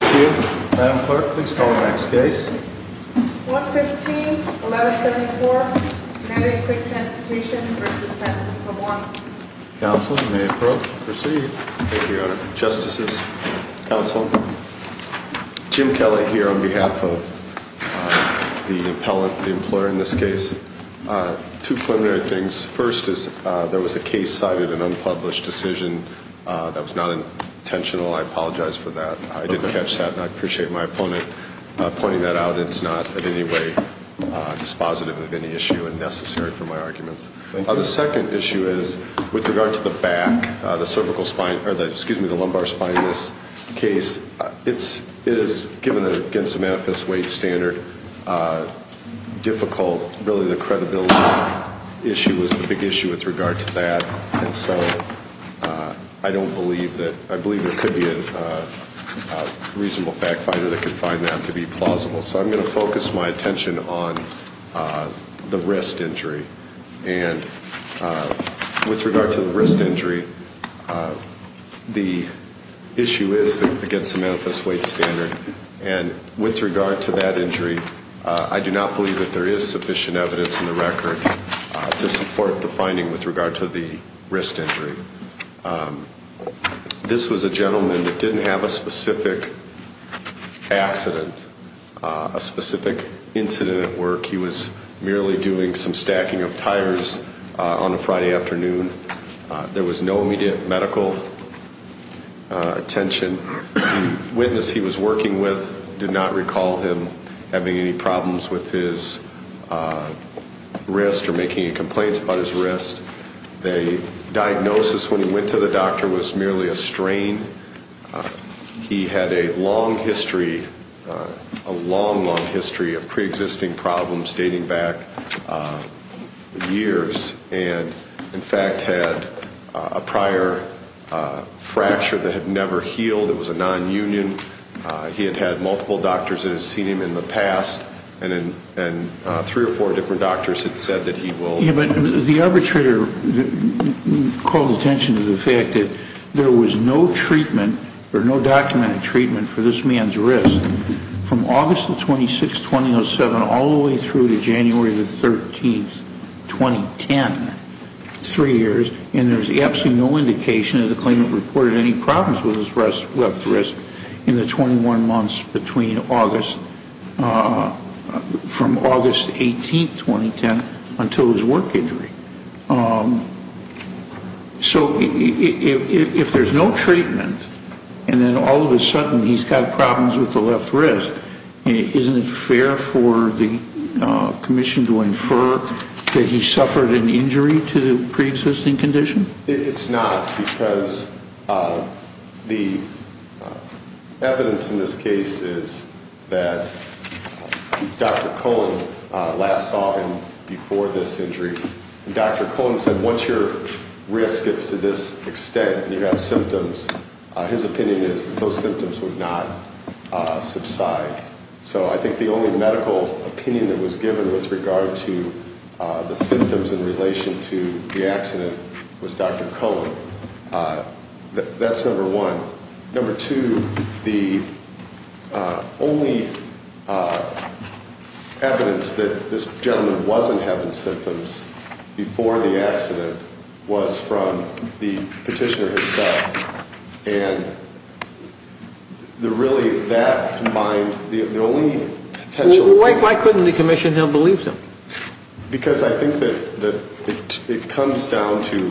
Thank you. Madam Clerk, please call the next case. 115-1174, United Quick Transportation v. Texas Com'n Counsel, you may approve. Proceed. Thank you, Your Honor. Justices, Counsel, Jim Kelly here on behalf of the employer in this case. Two preliminary things. First, there was a case cited, an unpublished decision that was not intentional. I apologize for that. I did catch that and I appreciate my opponent pointing that out. It's not in any way dispositive of any issue and necessary for my arguments. Thank you. The second issue is with regard to the back, the cervical spine, or excuse me, the lumbar spine in this case. It is, given that it's against the manifest weight standard, difficult. Really, the credibility issue is the big issue with regard to that. And so I don't believe that, I believe there could be a reasonable fact finder that could find that to be plausible. So I'm going to focus my attention on the wrist injury. And with regard to the wrist injury, the issue is against the manifest weight standard. And with regard to that injury, I do not believe that there is sufficient evidence in the record to support the finding with regard to the wrist injury. This was a gentleman that didn't have a specific accident, a specific incident at work. He was merely doing some stacking of tires on a Friday afternoon. There was no immediate medical attention. The witness he was working with did not recall him having any problems with his wrist or making any complaints about his wrist. The diagnosis when he went to the doctor was merely a strain. He had a long history, a long, long history of preexisting problems dating back years and, in fact, had a prior fracture that had never healed. It was a nonunion. He had had multiple doctors that had seen him in the past, and three or four different doctors had said that he will. Yeah, but the arbitrator called attention to the fact that there was no treatment or no documented treatment for this man's wrist from August 26, 2007, going all the way through to January 13, 2010, three years, and there's absolutely no indication of the claimant reported any problems with his left wrist in the 21 months between August, from August 18, 2010, until his work injury. So if there's no treatment and then all of a sudden he's got problems with the left wrist, isn't it fair for the commission to infer that he suffered an injury to the preexisting condition? It's not because the evidence in this case is that Dr. Cullen last saw him before this injury. Dr. Cullen said once your wrist gets to this extent and you have symptoms, his opinion is that those symptoms would not subside. So I think the only medical opinion that was given with regard to the symptoms in relation to the accident was Dr. Cullen. That's number one. Number two, the only evidence that this gentleman wasn't having symptoms before the accident was from the petitioner himself, and really that combined the only potential evidence. Why couldn't the commission have believed him? Because I think that it comes down to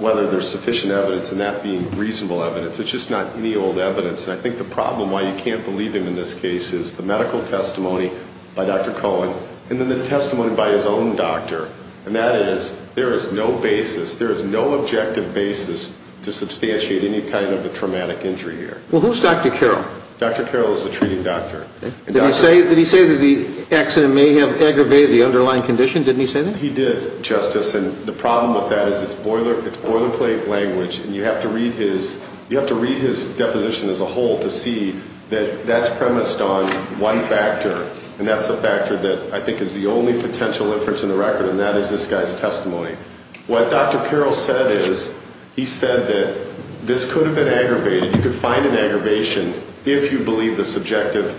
whether there's sufficient evidence and that being reasonable evidence. It's just not any old evidence. And I think the problem why you can't believe him in this case is the medical testimony by Dr. Cullen and then the testimony by his own doctor, and that is there is no basis, there is no objective basis to substantiate any kind of a traumatic injury here. Well, who's Dr. Carroll? Dr. Carroll is the treating doctor. Did he say that the accident may have aggravated the underlying condition? Didn't he say that? He did, Justice, and the problem with that is it's boilerplate language, and you have to read his deposition as a whole to see that that's premised on one factor, and that's a factor that I think is the only potential inference in the record, and that is this guy's testimony. What Dr. Carroll said is he said that this could have been aggravated. You could find an aggravation if you believe the subjective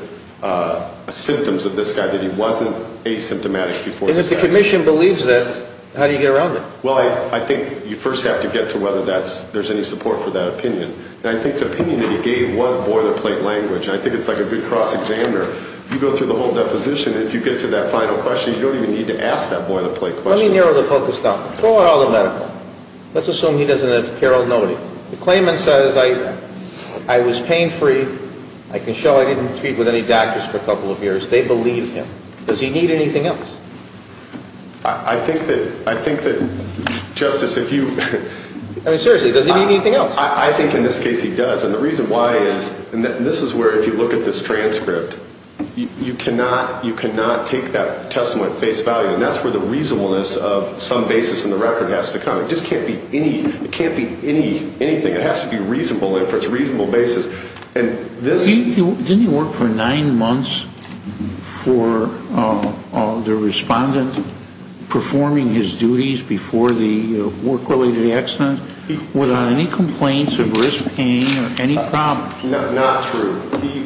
symptoms of this guy, that he wasn't asymptomatic before the accident. And if the commission believes that, how do you get around it? Well, I think you first have to get to whether there's any support for that opinion, and I think the opinion that he gave was boilerplate language, and I think it's like a good cross-examiner. You go through the whole deposition, and if you get to that final question, you don't even need to ask that boilerplate question. Let me narrow the focus down. Throw out all the medical. Let's assume he doesn't have Carroll noted. The claimant says, I was pain-free. I can show I didn't treat with any doctors for a couple of years. They believe him. Does he need anything else? I think that, Justice, if you... I mean, seriously, does he need anything else? I think in this case he does, and the reason why is, and this is where if you look at this transcript, you cannot take that testimony at face value, and that's where the reasonableness of some basis in the record has to come. It just can't be anything. It has to be reasonable, and for its reasonable basis. And this... Didn't he work for nine months for the respondent, performing his duties before the work-related accident, without any complaints of risk, pain, or any problems? Not true.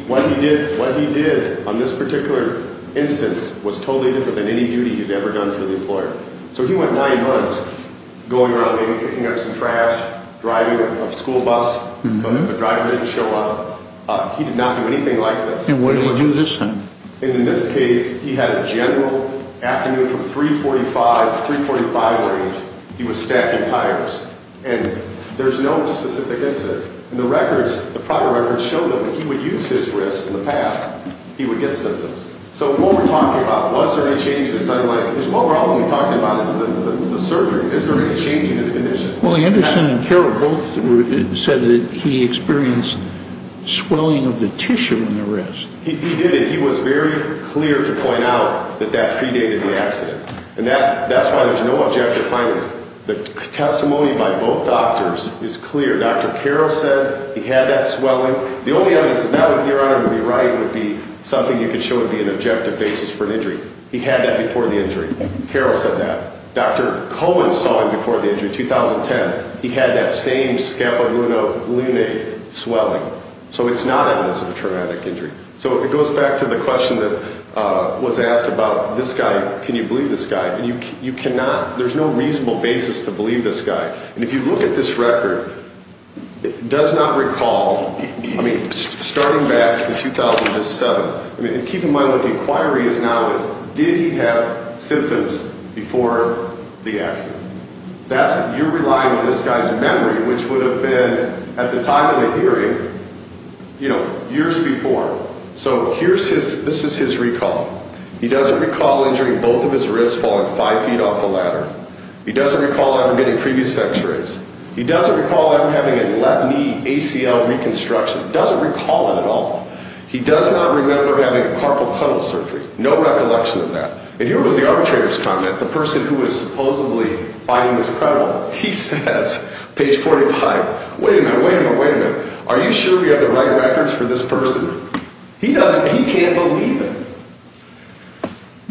What he did on this particular instance was totally different than any duty he'd ever done to the employer. So he went nine months going around picking up some trash, driving a school bus. The driver didn't show up. He did not do anything like this. And what did he do this time? In this case, he had a general afternoon from 345 to 345 range. He was stacking tires. And there's no specific incident. And the records, the prior records, show that if he would use his wrist in the past, he would get symptoms. So what we're talking about, was there any changes? I'm like, there's one problem we're talking about is the surgery. Is there any change in his condition? Well, Anderson and Carroll both said that he experienced swelling of the tissue in the wrist. He did it. He was very clear to point out that that predated the accident. And that's why there's no objective findings. The testimony by both doctors is clear. Dr. Carroll said he had that swelling. The only evidence that that would, Your Honor, would be right, would be something you could show would be an objective basis for an injury. He had that before the injury. Carroll said that. Dr. Cohen saw it before the injury, 2010. He had that same scapula lunate swelling. So it's not evidence of a traumatic injury. So it goes back to the question that was asked about this guy. Can you believe this guy? And you cannot. There's no reasonable basis to believe this guy. And if you look at this record, it does not recall, I mean, starting back in 2007. I mean, keep in mind what the inquiry is now is did he have symptoms before the accident. That's, you're relying on this guy's memory, which would have been at the time of the hearing, you know, years before. So here's his, this is his recall. He doesn't recall injuring both of his wrists falling five feet off a ladder. He doesn't recall ever getting previous x-rays. He doesn't recall ever having a left knee ACL reconstruction. He doesn't recall it at all. He does not remember having a carpal tunnel surgery. No recollection of that. And here was the arbitrator's comment, the person who was supposedly finding this credible. He says, page 45, wait a minute, wait a minute, wait a minute. Are you sure we have the right records for this person? He doesn't, he can't believe it.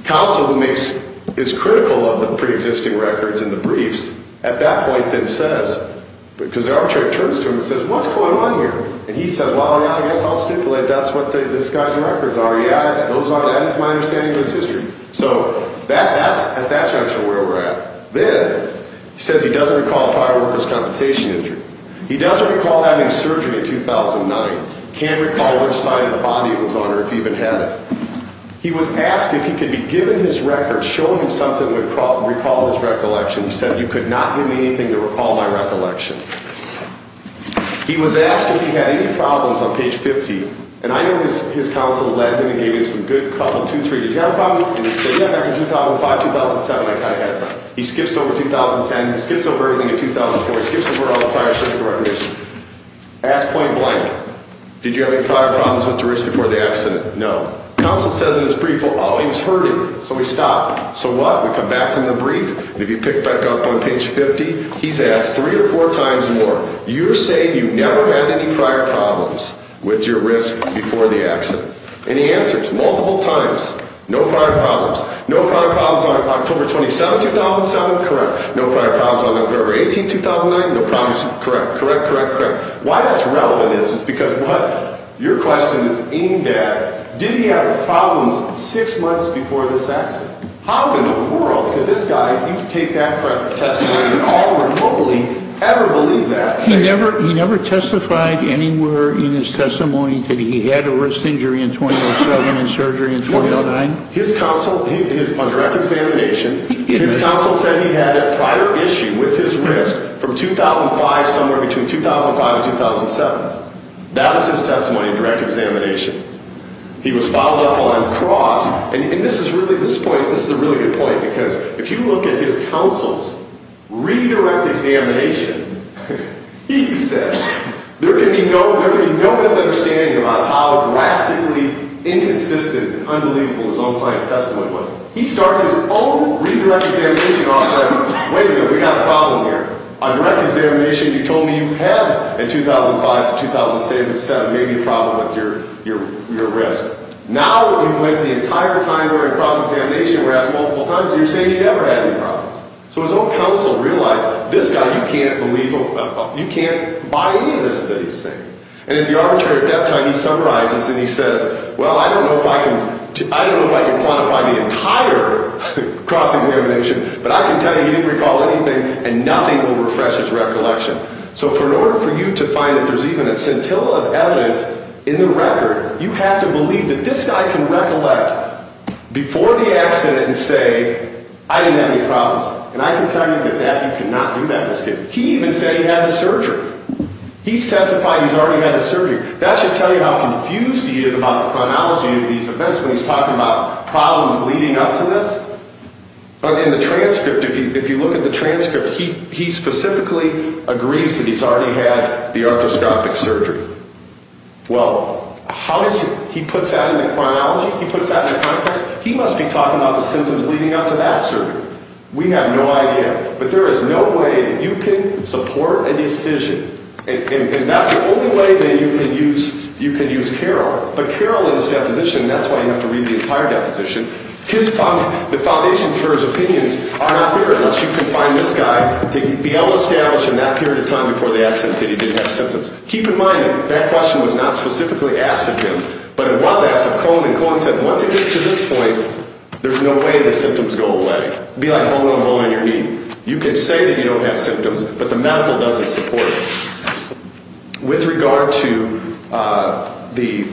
Counsel who makes, is critical of the pre-existing records and the briefs at that point then says, because the arbitrator turns to him and says, what's going on here? And he says, well, yeah, I guess I'll stipulate that's what this guy's records are. Yeah, those are, that is my understanding of his history. So that, that's at that juncture where we're at. Then he says he doesn't recall a fireworker's compensation injury. He doesn't recall having surgery in 2009. Can't recall which side of the body it was on or if he even had it. He was asked if he could be given his records, show him something that would recall his recollection. He said, you could not give me anything to recall my recollection. He was asked if he had any problems on page 50. And I know his counsel led him and gave him some good couple, two, three, did you have a problem? And he said, yeah, back in 2005, 2007, I kind of had some. He skips over 2010, he skips over everything in 2004. He skips over all the prior surgical arbitration. Asked point blank, did you have any prior problems with your wrist before the accident? No. Counsel says in his brief, oh, he was hurting. So we stopped. So what? We come back from the brief. And if you pick back up on page 50, he's asked three or four times more. You're saying you never had any prior problems with your wrist before the accident. And he answers multiple times, no prior problems. No prior problems on October 27, 2007. Correct. No prior problems on October 18, 2009. No problems. Correct. Correct. Correct. Correct. Why that's relevant is because what your question is aimed at, did he have problems six months before this accident? How in the world could this guy, if you take that testimony at all remotely, ever believe that? He never testified anywhere in his testimony that he had a wrist injury in 2007 and surgery in 2009? His counsel, on direct examination, his counsel said he had a prior issue with his wrist from 2005, somewhere between 2005 and 2007. That was his testimony on direct examination. He was followed up on across. And this is really this point, this is a really good point, because if you look at his counsel's redirect examination, he said, there can be no misunderstanding about how drastically inconsistent and unbelievable his own client's testimony was. He starts his own redirect examination off by saying, wait a minute, we've got a problem here. On direct examination, you told me you had, in 2005 to 2007, maybe a problem with your wrist. Now you've went the entire time we're in cross-examination, we're asked multiple times, and you're saying you never had any problems. So his own counsel realized, this guy, you can't buy any of this that he's saying. And if the arbitrator at that time, he summarizes and he says, well, I don't know if I can quantify the entire cross-examination, but I can tell you he didn't recall anything, and nothing will refresh his recollection. So in order for you to find that there's even a scintilla of evidence in the record, you have to believe that this guy can recollect before the accident and say, I didn't have any problems. And I can tell you that you cannot do that. He even said he had the surgery. He's testifying he's already had the surgery. That should tell you how confused he is about the chronology of these events when he's talking about problems leading up to this. In the transcript, if you look at the transcript, he specifically agrees that he's already had the arthroscopic surgery. Well, how does he, he puts that in the chronology? He puts that in the context? He must be talking about the symptoms leading up to that surgery. We have no idea. But there is no way you can support a decision, and that's the only way that you can use Carroll. But Carroll in his deposition, and that's why you have to read the entire deposition, the foundation for his opinions are not there unless you can find this guy to be able to establish in that period of time before the accident that he didn't have symptoms. Keep in mind that that question was not specifically asked of him, but it was asked of Cohen. And Cohen said once it gets to this point, there's no way the symptoms go away. It would be like holding a bone in your knee. You can say that you don't have symptoms, but the medical doesn't support it. With regard to the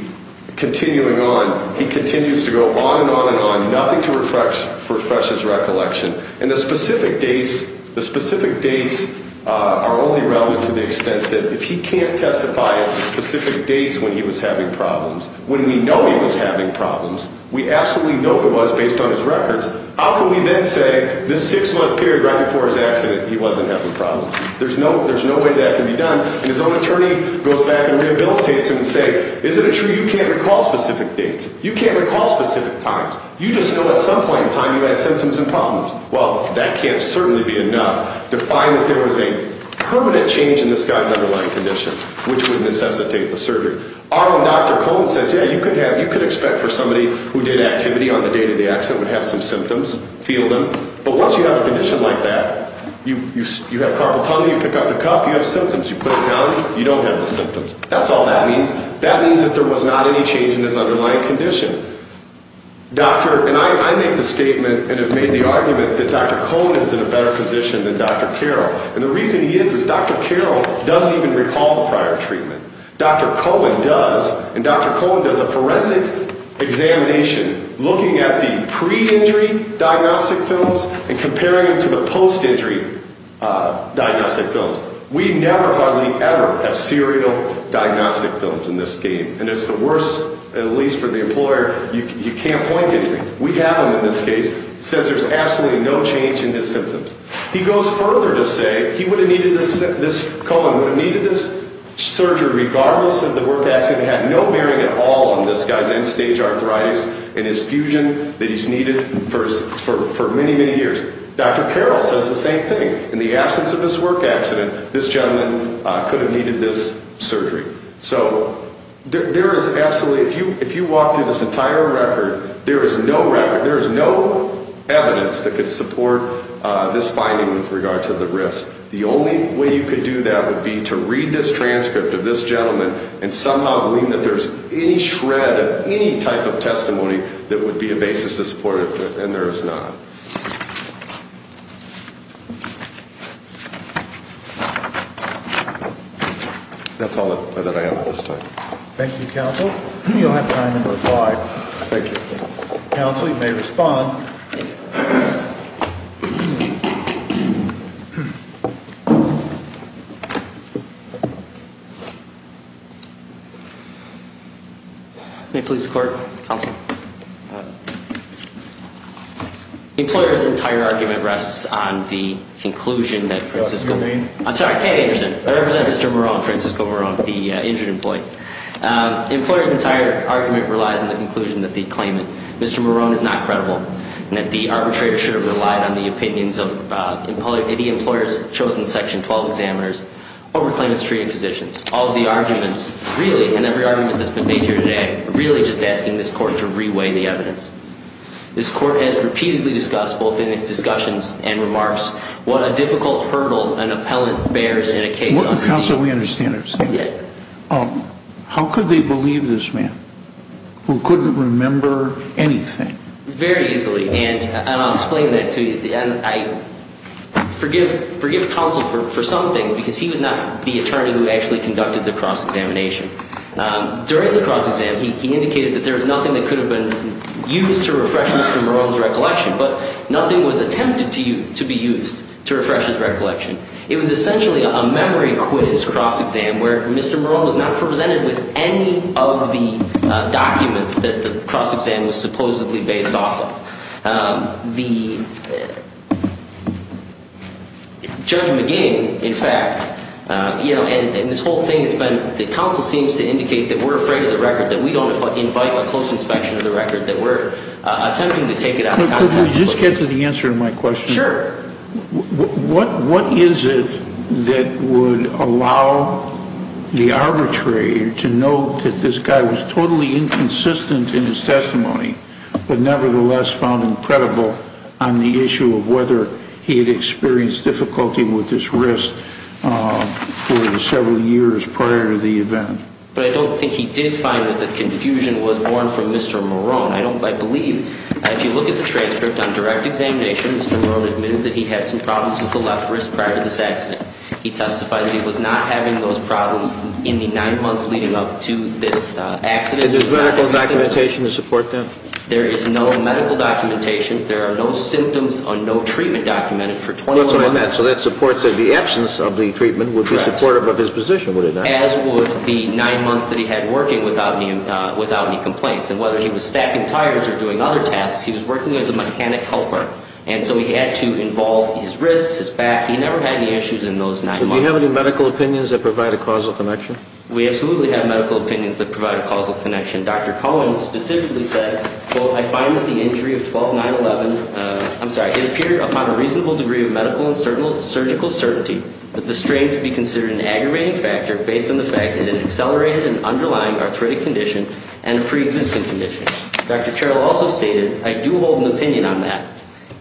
continuing on, he continues to go on and on and on, nothing to refresh his recollection. And the specific dates are only relevant to the extent that if he can't testify as to specific dates when he was having problems, when we know he was having problems, we absolutely know it was based on his records, how can we then say this six-month period right before his accident he wasn't having problems? There's no way that can be done. And his own attorney goes back and rehabilitates him and say, is it true you can't recall specific dates? You can't recall specific times. You just know at some point in time you had symptoms and problems. Well, that can't certainly be enough to find that there was a permanent change in this guy's underlying condition, which would necessitate the surgery. Our own Dr. Cohen says, yeah, you could expect for somebody who did activity on the day of the accident would have some symptoms, feel them. But once you have a condition like that, you have carpal tunnel, you pick up the cup, you have symptoms. You put it down, you don't have the symptoms. That's all that means. That means that there was not any change in his underlying condition. And I make the statement and have made the argument that Dr. Cohen is in a better position than Dr. Carroll. And the reason he is is Dr. Carroll doesn't even recall the prior treatment. Dr. Cohen does, and Dr. Cohen does a forensic examination looking at the pre-injury diagnostic films and comparing them to the post-injury diagnostic films. We never, hardly ever have serial diagnostic films in this game. And it's the worst, at least for the employer, you can't point to anything. We have them in this case. He says there's absolutely no change in his symptoms. He goes further to say he would have needed this, Cohen would have needed this surgery regardless of the work accident. It had no bearing at all on this guy's end-stage arthritis and his fusion that he's needed for many, many years. Dr. Carroll says the same thing. In the absence of this work accident, this gentleman could have needed this surgery. So there is absolutely, if you walk through this entire record, there is no record, there is no evidence that could support this finding with regard to the risk. The only way you could do that would be to read this transcript of this gentleman and somehow glean that there's any shred of any type of testimony that would be a basis to support it. And there is not. That's all that I have at this time. Thank you, Counsel. You'll have time to reply. Thank you. Counsel, you may respond. May it please the Court. Counsel. The employer's entire argument rests on the conclusion that Francisco Marone, the injured employee. The employer's entire argument relies on the conclusion that the claimant, Mr. Marone, is not credible, and that the arbitrator should have relied on the opinions of the employer's chosen section 12 examiners over claimant's treating physicians. All of the arguments, really, in every argument that's been made here today, are really just asking this Court to re-weigh the evidence. This Court has repeatedly discussed, both in its discussions and remarks, what a difficult hurdle an appellant bears in a case like this. Counsel, we understand what you're saying. Yes. How could they believe this man, who couldn't remember anything? Very easily. And I'll explain that to you. And I forgive Counsel for some things, because he was not the attorney who actually conducted the cross-examination. During the cross-exam, he indicated that there was nothing that could have been used to refresh Mr. Marone's recollection, but nothing was attempted to be used to refresh his recollection. It was essentially a memory quiz cross-exam, where Mr. Marone was not presented with any of the documents that the cross-exam was supposedly based off of. The Judge McGee, in fact, you know, and this whole thing has been, the Counsel seems to indicate that we're afraid of the record, that we don't invite a close inspection of the record, that we're attempting to take it out of context. Could we just get to the answer to my question? Sure. What is it that would allow the arbitrator to know that this guy was totally inconsistent in his testimony, but nevertheless found incredible on the issue of whether he had experienced difficulty with this risk for several years prior to the event? But I don't think he did find that the confusion was born from Mr. Marone. I believe if you look at the transcript on direct examination, Mr. Marone admitted that he had some problems with the left wrist prior to this accident. He testified that he was not having those problems in the nine months leading up to this accident. And there's medical documentation to support that? There is no medical documentation. There are no symptoms or no treatment documented for 21 months. So that supports that the absence of the treatment would be supportive of his position, would it not? As would the nine months that he had working without any complaints. And whether he was stacking tires or doing other tasks, he was working as a mechanic helper. And so he had to involve his wrists, his back. He never had any issues in those nine months. Do we have any medical opinions that provide a causal connection? We absolutely have medical opinions that provide a causal connection. Dr. Cohen specifically said, quote, I find that the injury of 12-9-11, I'm sorry, it appeared upon a reasonable degree of medical and surgical certainty that the strain could be considered an aggravating factor based on the fact that it accelerated an underlying arthritic condition and a pre-existing condition. Dr. Carroll also stated, I do hold an opinion on that.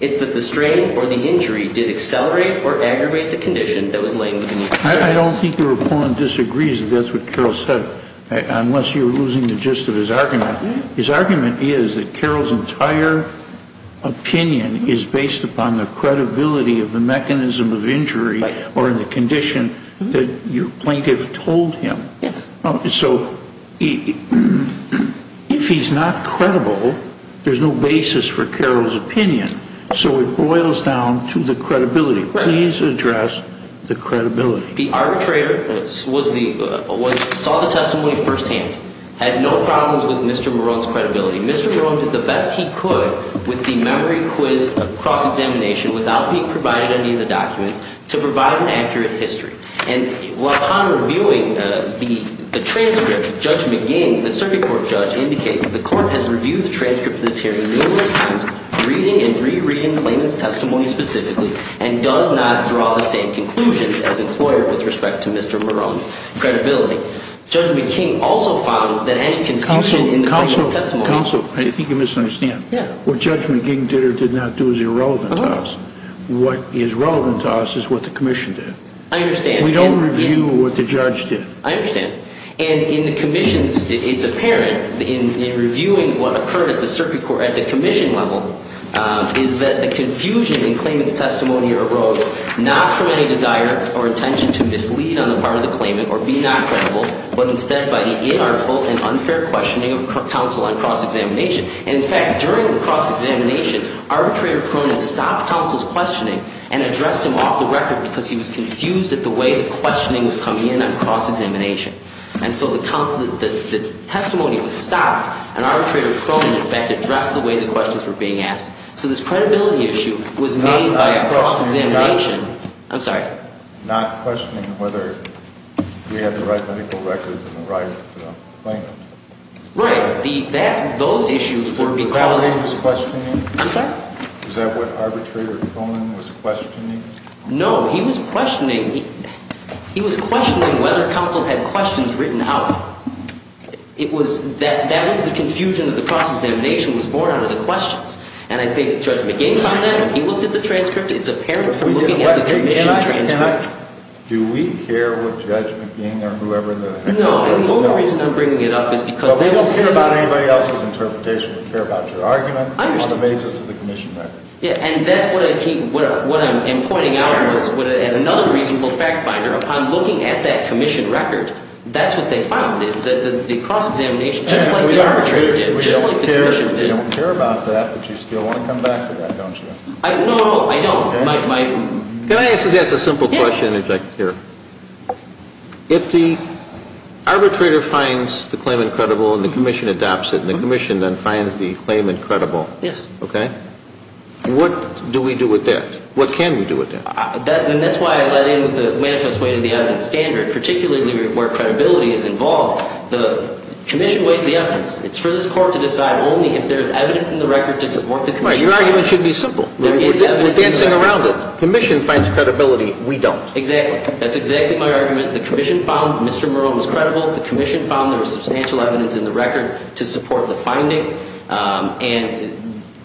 It's that the strain or the injury did accelerate or aggravate the condition that was laying between the two. I don't think your opponent disagrees that that's what Carroll said, unless you're losing the gist of his argument. His argument is that Carroll's entire opinion is based upon the credibility of the mechanism of injury or the condition that your plaintiff told him. So if he's not credible, there's no basis for Carroll's opinion. So it boils down to the credibility. Please address the credibility. The arbitrator saw the testimony firsthand, had no problems with Mr. Marone's credibility. Mr. Marone did the best he could with the memory quiz cross-examination without being provided any of the documents to provide an accurate history. And upon reviewing the transcript, Judge McGee, the circuit court judge, indicates the court has reviewed the transcript of this hearing numerous times, reading and re-reading Clayman's testimony specifically, and does not draw the same conclusions as employer with respect to Mr. Marone's credibility. Judge McGee also found that any confusion in the Clayman's testimony Counsel, I think you misunderstand. What Judge McGee did or did not do is irrelevant to us. What is relevant to us is what the commission did. I understand. We don't review what the judge did. I understand. And in the commission's, it's apparent in reviewing what occurred at the circuit court, at the commission level, is that the confusion in Clayman's testimony arose not from any desire or intention to mislead on the part of the claimant or be not credible, but instead by the inartful and unfair questioning of counsel on cross-examination. And in fact, during the cross-examination, arbitrator Cronin stopped counsel's questioning and addressed him off the record because he was confused at the way the questioning was coming in on cross-examination. And so the testimony was stopped and arbitrator Cronin, in fact, addressed the way the questions were being asked. So this credibility issue was made by cross-examination. I'm sorry. Not questioning whether we have the right medical records and the right claimant. Right. Those issues were because Was that what Cronin was questioning? I'm sorry? Was that what arbitrator Cronin was questioning? No. He was questioning whether counsel had questions written out. It was that that was the confusion of the cross-examination was born out of the questions. And I think Judge McIng on that, when he looked at the transcript, it's apparent from looking at the commission transcript. Do we care what Judge McIng or whoever the heck. No. And the only reason I'm bringing it up is because But we don't care about anybody else's interpretation. We care about your argument on the basis of the commission record. And that's what I keep, what I'm pointing out is at another reasonable fact finder, upon looking at that commission record, that's what they found is that the cross-examination, just like the arbitrator did, just like the commission did. We don't care about that, but you still want to come back to that, don't you? No, no, I don't. Can I just ask a simple question here? If the arbitrator finds the claimant credible and the commission adopts it and the commission then finds the claimant credible, Yes. Okay. What do we do with that? What can we do with that? And that's why I let in the manifest way to the evidence standard, particularly where credibility is involved. The commission weighs the evidence. It's for this court to decide only if there's evidence in the record to support the commission. Right. Your argument should be simple. There is evidence in the record. We're dancing around it. Commission finds credibility. We don't. Exactly. That's exactly my argument. The commission found Mr. Marone was credible. The commission found there was substantial evidence in the record to support the finding. And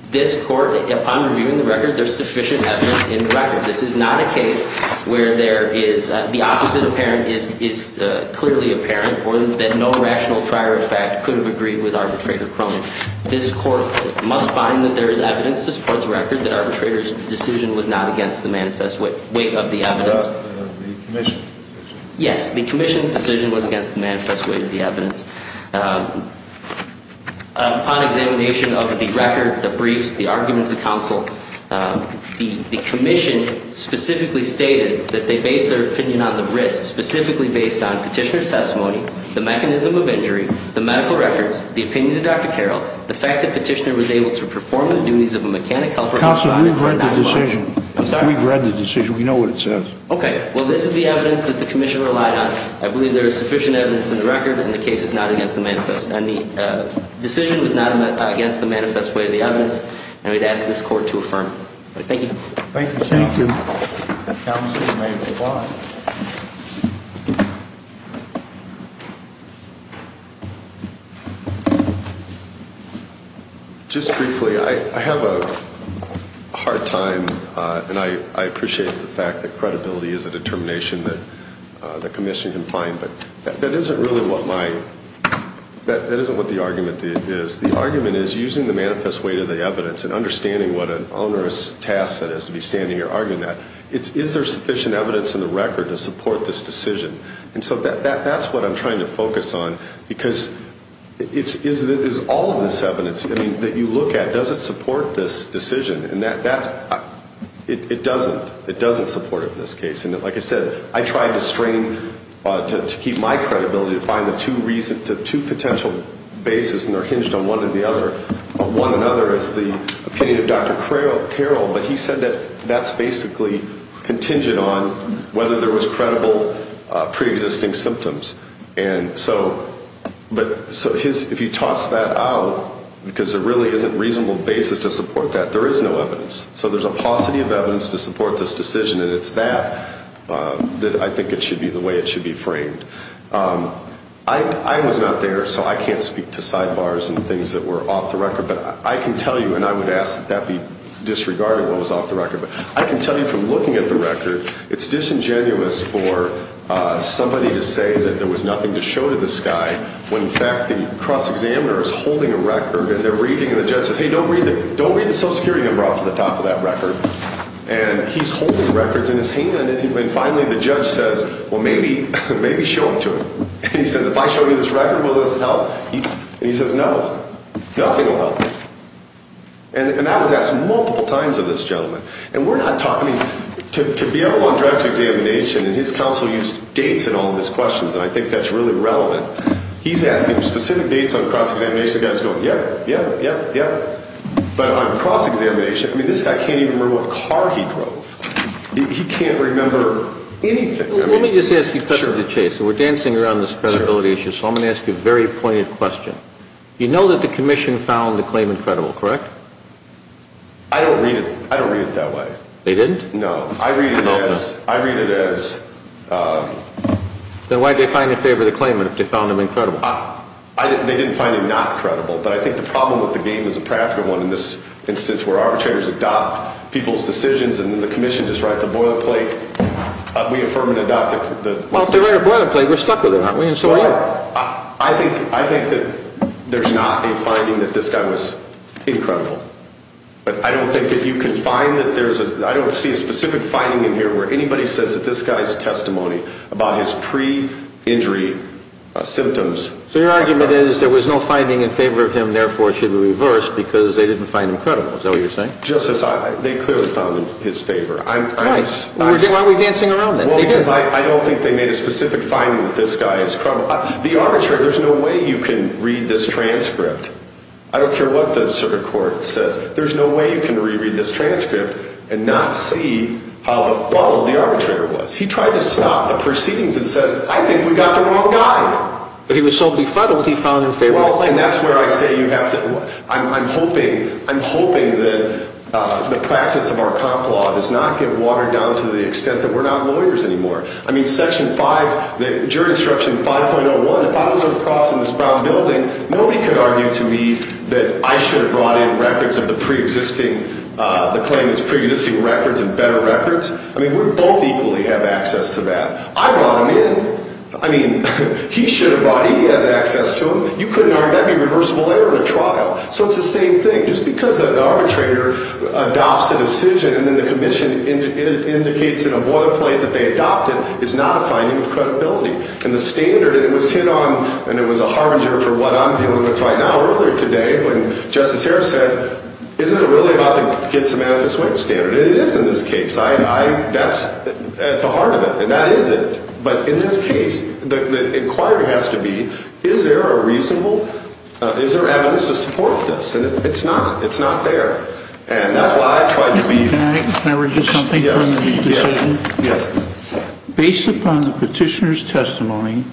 this court, upon reviewing the record, there's sufficient evidence in the record. This is not a case where the opposite apparent is clearly apparent or that no rational prior effect could have agreed with arbitrator Cronin. This court must find that there is evidence to support the record, that arbitrator's decision was not against the manifest weight of the evidence. The commission's decision. Yes, the commission's decision was against the manifest weight of the evidence. Upon examination of the record, the briefs, the arguments of counsel, the commission specifically stated that they base their opinion on the risks specifically based on petitioner's testimony, the mechanism of injury, the medical records, the opinion of Dr. Carroll, the fact that petitioner was able to perform the duties of a mechanic helper. Counselor, we've read the decision. I'm sorry? We've read the decision. We know what it says. Okay. Well, this is the evidence that the commission relied on. I believe there is sufficient evidence in the record and the case is not against the manifest. The decision was not against the manifest weight of the evidence and I would ask this court to affirm. Thank you. Thank you. Thank you. Counsel may move on. Just briefly, I have a hard time and I appreciate the fact that credibility is a determination that the commission can find, but that isn't really what my, that isn't what the argument is. The argument is using the manifest weight of the evidence and understanding what an onerous task that is to be standing here arguing that. Is there sufficient evidence in the record to support this decision? And so that's what I'm trying to focus on because is all of this evidence that you look at, does it support this decision? And that's, it doesn't. It doesn't support it in this case. And like I said, I tried to strain, to keep my credibility to find the two reasons, the two potential bases and they're hinged on one and the other. One another is the opinion of Dr. Carroll, but he said that that's basically contingent on whether there was credible preexisting symptoms. And so, but, so his, if you toss that out, because there really isn't reasonable basis to support that, there is no evidence. So there's a paucity of evidence to support this decision and it's that that I think it should be the way it should be framed. I was not there, so I can't speak to sidebars and things that were off the record, but I can tell you, and I would ask that that be disregarded what was off the record, but I can tell you from looking at the record, it's disingenuous for somebody to say that there was nothing to show to this guy when in fact the cross-examiner is holding a record and they're reading and the judge says, hey, don't read the Social Security number off the top of that record. And he's holding records in his hand and finally the judge says, well, maybe, maybe show them to him. And he says, if I show you this record, will this help? And he says, no, nothing will help. And that was asked multiple times of this gentleman. And we're not talking, to be able on direct examination, and his counsel used dates in all of his questions, and I think that's really relevant. He's asking specific dates on cross-examination, and this guy is going, yeah, yeah, yeah, yeah. But on cross-examination, I mean, this guy can't even remember what car he drove. He can't remember anything. Let me just ask you, because of the chase, and we're dancing around this credibility issue, so I'm going to ask you a very pointed question. You know that the commission found the claimant credible, correct? I don't read it that way. They didn't? No. I read it as... Then why did they find in favor of the claimant if they found him incredible? They didn't find him not credible, but I think the problem with the game is a practical one in this instance where arbitrators adopt people's decisions, and then the commission just writes a boilerplate. We affirm and adopt the... Well, if they write a boilerplate, we're stuck with it, aren't we? And so we are. I think that there's not a finding that this guy was incredible. But I don't think that you can find that there's a... I don't see a specific finding in here where anybody says that this guy's testimony about his pre-injury symptoms... So your argument is there was no finding in favor of him, therefore it should be reversed because they didn't find him credible. Is that what you're saying? Justice, they clearly found him in his favor. Why are we dancing around it? Well, because I don't think they made a specific finding that this guy is... The arbitrator, there's no way you can read this transcript. I don't care what the circuit court says. There's no way you can reread this transcript and not see how appalled the arbitrator was. He tried to stop the proceedings and says, I think we got the wrong guy. But he was so befuddled he found in favor... Well, and that's where I say you have to... I'm hoping that the practice of our comp law does not get watered down to the extent that we're not lawyers anymore. I mean, Section 5, Jury Instruction 5.01, if I was going to cross in this brown building, nobody could argue to me that I should have brought in records of the pre-existing, the claimants' pre-existing records and better records. I mean, we both equally have access to that. I brought him in. I mean, he should have brought in. He has access to them. You couldn't argue that'd be reversible error in a trial. So it's the same thing. Just because an arbitrator adopts a decision and then the commission indicates in a boilerplate that they adopted is not a finding of credibility. And the standard, and it was hit on, and it was a harbinger for what I'm dealing with right now earlier today when Justice Harris said, isn't it really about the get some benefits when standard? And it is in this case. That's at the heart of it. And that is it. But in this case, the inquiry has to be, is there a reasonable, is there evidence to support this? And it's not. It's not there. And that's why I tried to be. Can I read you something from the decision? Yes. Based upon the petitioner's testimony,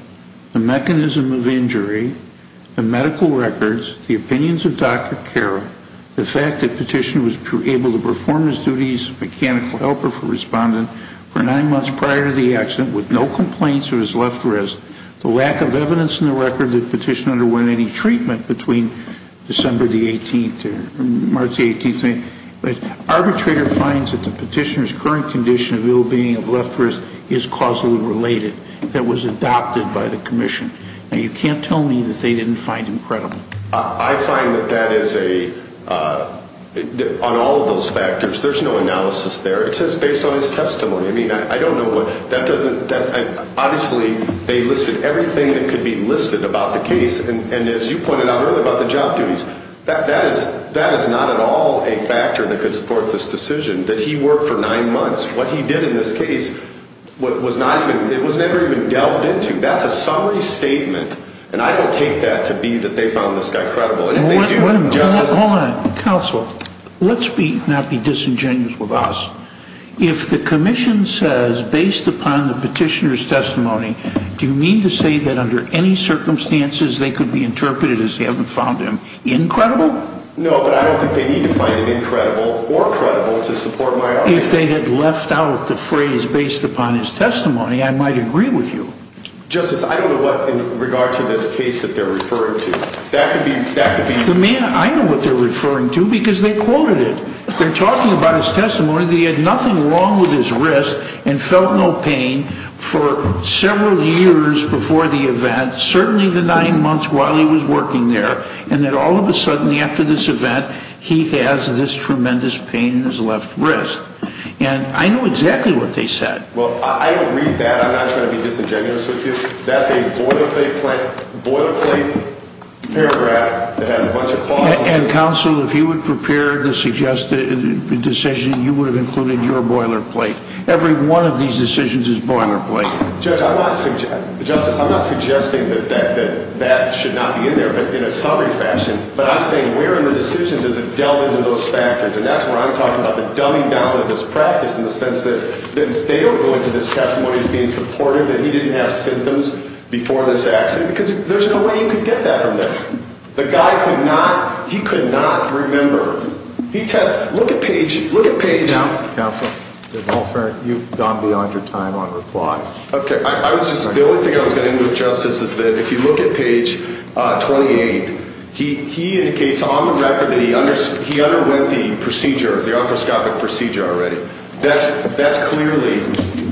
the mechanism of injury, the medical records, the opinions of Dr. Carroll, the fact that the petitioner was able to perform his duties as a mechanical helper for a respondent for nine months prior to the accident with no complaints of his left wrist, the lack of evidence in the record that the petitioner underwent any treatment between December the 18th and March the 18th, the arbitrator finds that the petitioner's current condition of ill being of left wrist is causally related. That was adopted by the commission. Now, you can't tell me that they didn't find him credible. I find that that is a, on all of those factors, there's no analysis there. It says based on his testimony. I mean, I don't know what, that doesn't, obviously they listed everything that could be listed about the case. And as you pointed out earlier about the job duties, that is not at all a factor that could support this decision, that he worked for nine months. What he did in this case was not even, it was never even delved into. That's a summary statement. And I don't take that to be that they found this guy credible. Hold on counsel. Let's be not be disingenuous with us. If the commission says based upon the petitioner's testimony, do you mean to say that under any circumstances they could be interpreted as they haven't found him incredible? No, but I don't think they need to find it incredible or credible to support my argument. If they had left out the phrase based upon his testimony, I might agree with you. Justice, I don't know what in regard to this case that they're referring to. That could be. The man I know what they're referring to because they quoted it. They're talking about his testimony. They had nothing wrong with his wrist and felt no pain for several years before the event, certainly the nine months while he was working there and that all of a sudden after this event, he has this tremendous pain in his left wrist. And I know exactly what they said. Well, I don't read that. I'm not trying to be disingenuous with you. That's a boilerplate paragraph that has a bunch of clauses. And counsel, if you would prepare to suggest the decision, you would have included your boilerplate. Every one of these decisions is boilerplate. Justice, I'm not suggesting that that should not be in there, but in a summary fashion, but I'm saying where in the decision does it delve into those factors? And that's where I'm talking about the dumbing down of this practice in the case. They don't go into this testimony as being supportive that he didn't have symptoms before this accident because there's no way you can get that from this. The guy could not, he could not remember. He tests, look at page, look at page now. Counsel, you've gone beyond your time on reply. Okay. I was just, the only thing I was going to do with justice is that if you look at page 28, he, he indicates on the record that he understood he underwent the procedure, the arthroscopic procedure already. That's, that's clearly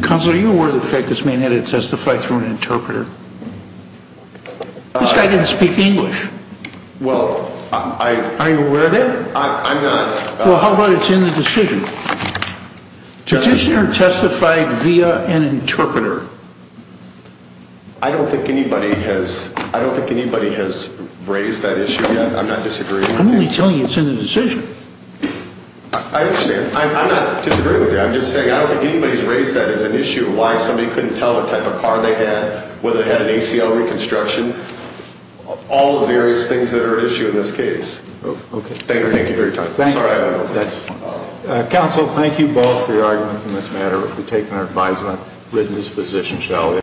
cause. Are you aware of the fact that this man had to testify through an interpreter? I didn't speak English. Well, I, are you aware of that? I'm not. Well, how about it's in the decision? Judiciary testified via an interpreter. I don't think anybody has, I don't think anybody has raised that issue yet. I'm not disagreeing. I'm only telling you it's in the decision. I understand. I'm not disagreeing with you. I'm just saying, I don't think anybody's raised that as an issue of why somebody couldn't tell what type of car they had, whether they had an ACL reconstruction, all the various things that are at issue in this case. Okay. Thank you. Thank you very much. Thank you. Counsel, thank you both for your arguments in this matter. We've taken our advisement, written this position, shall we?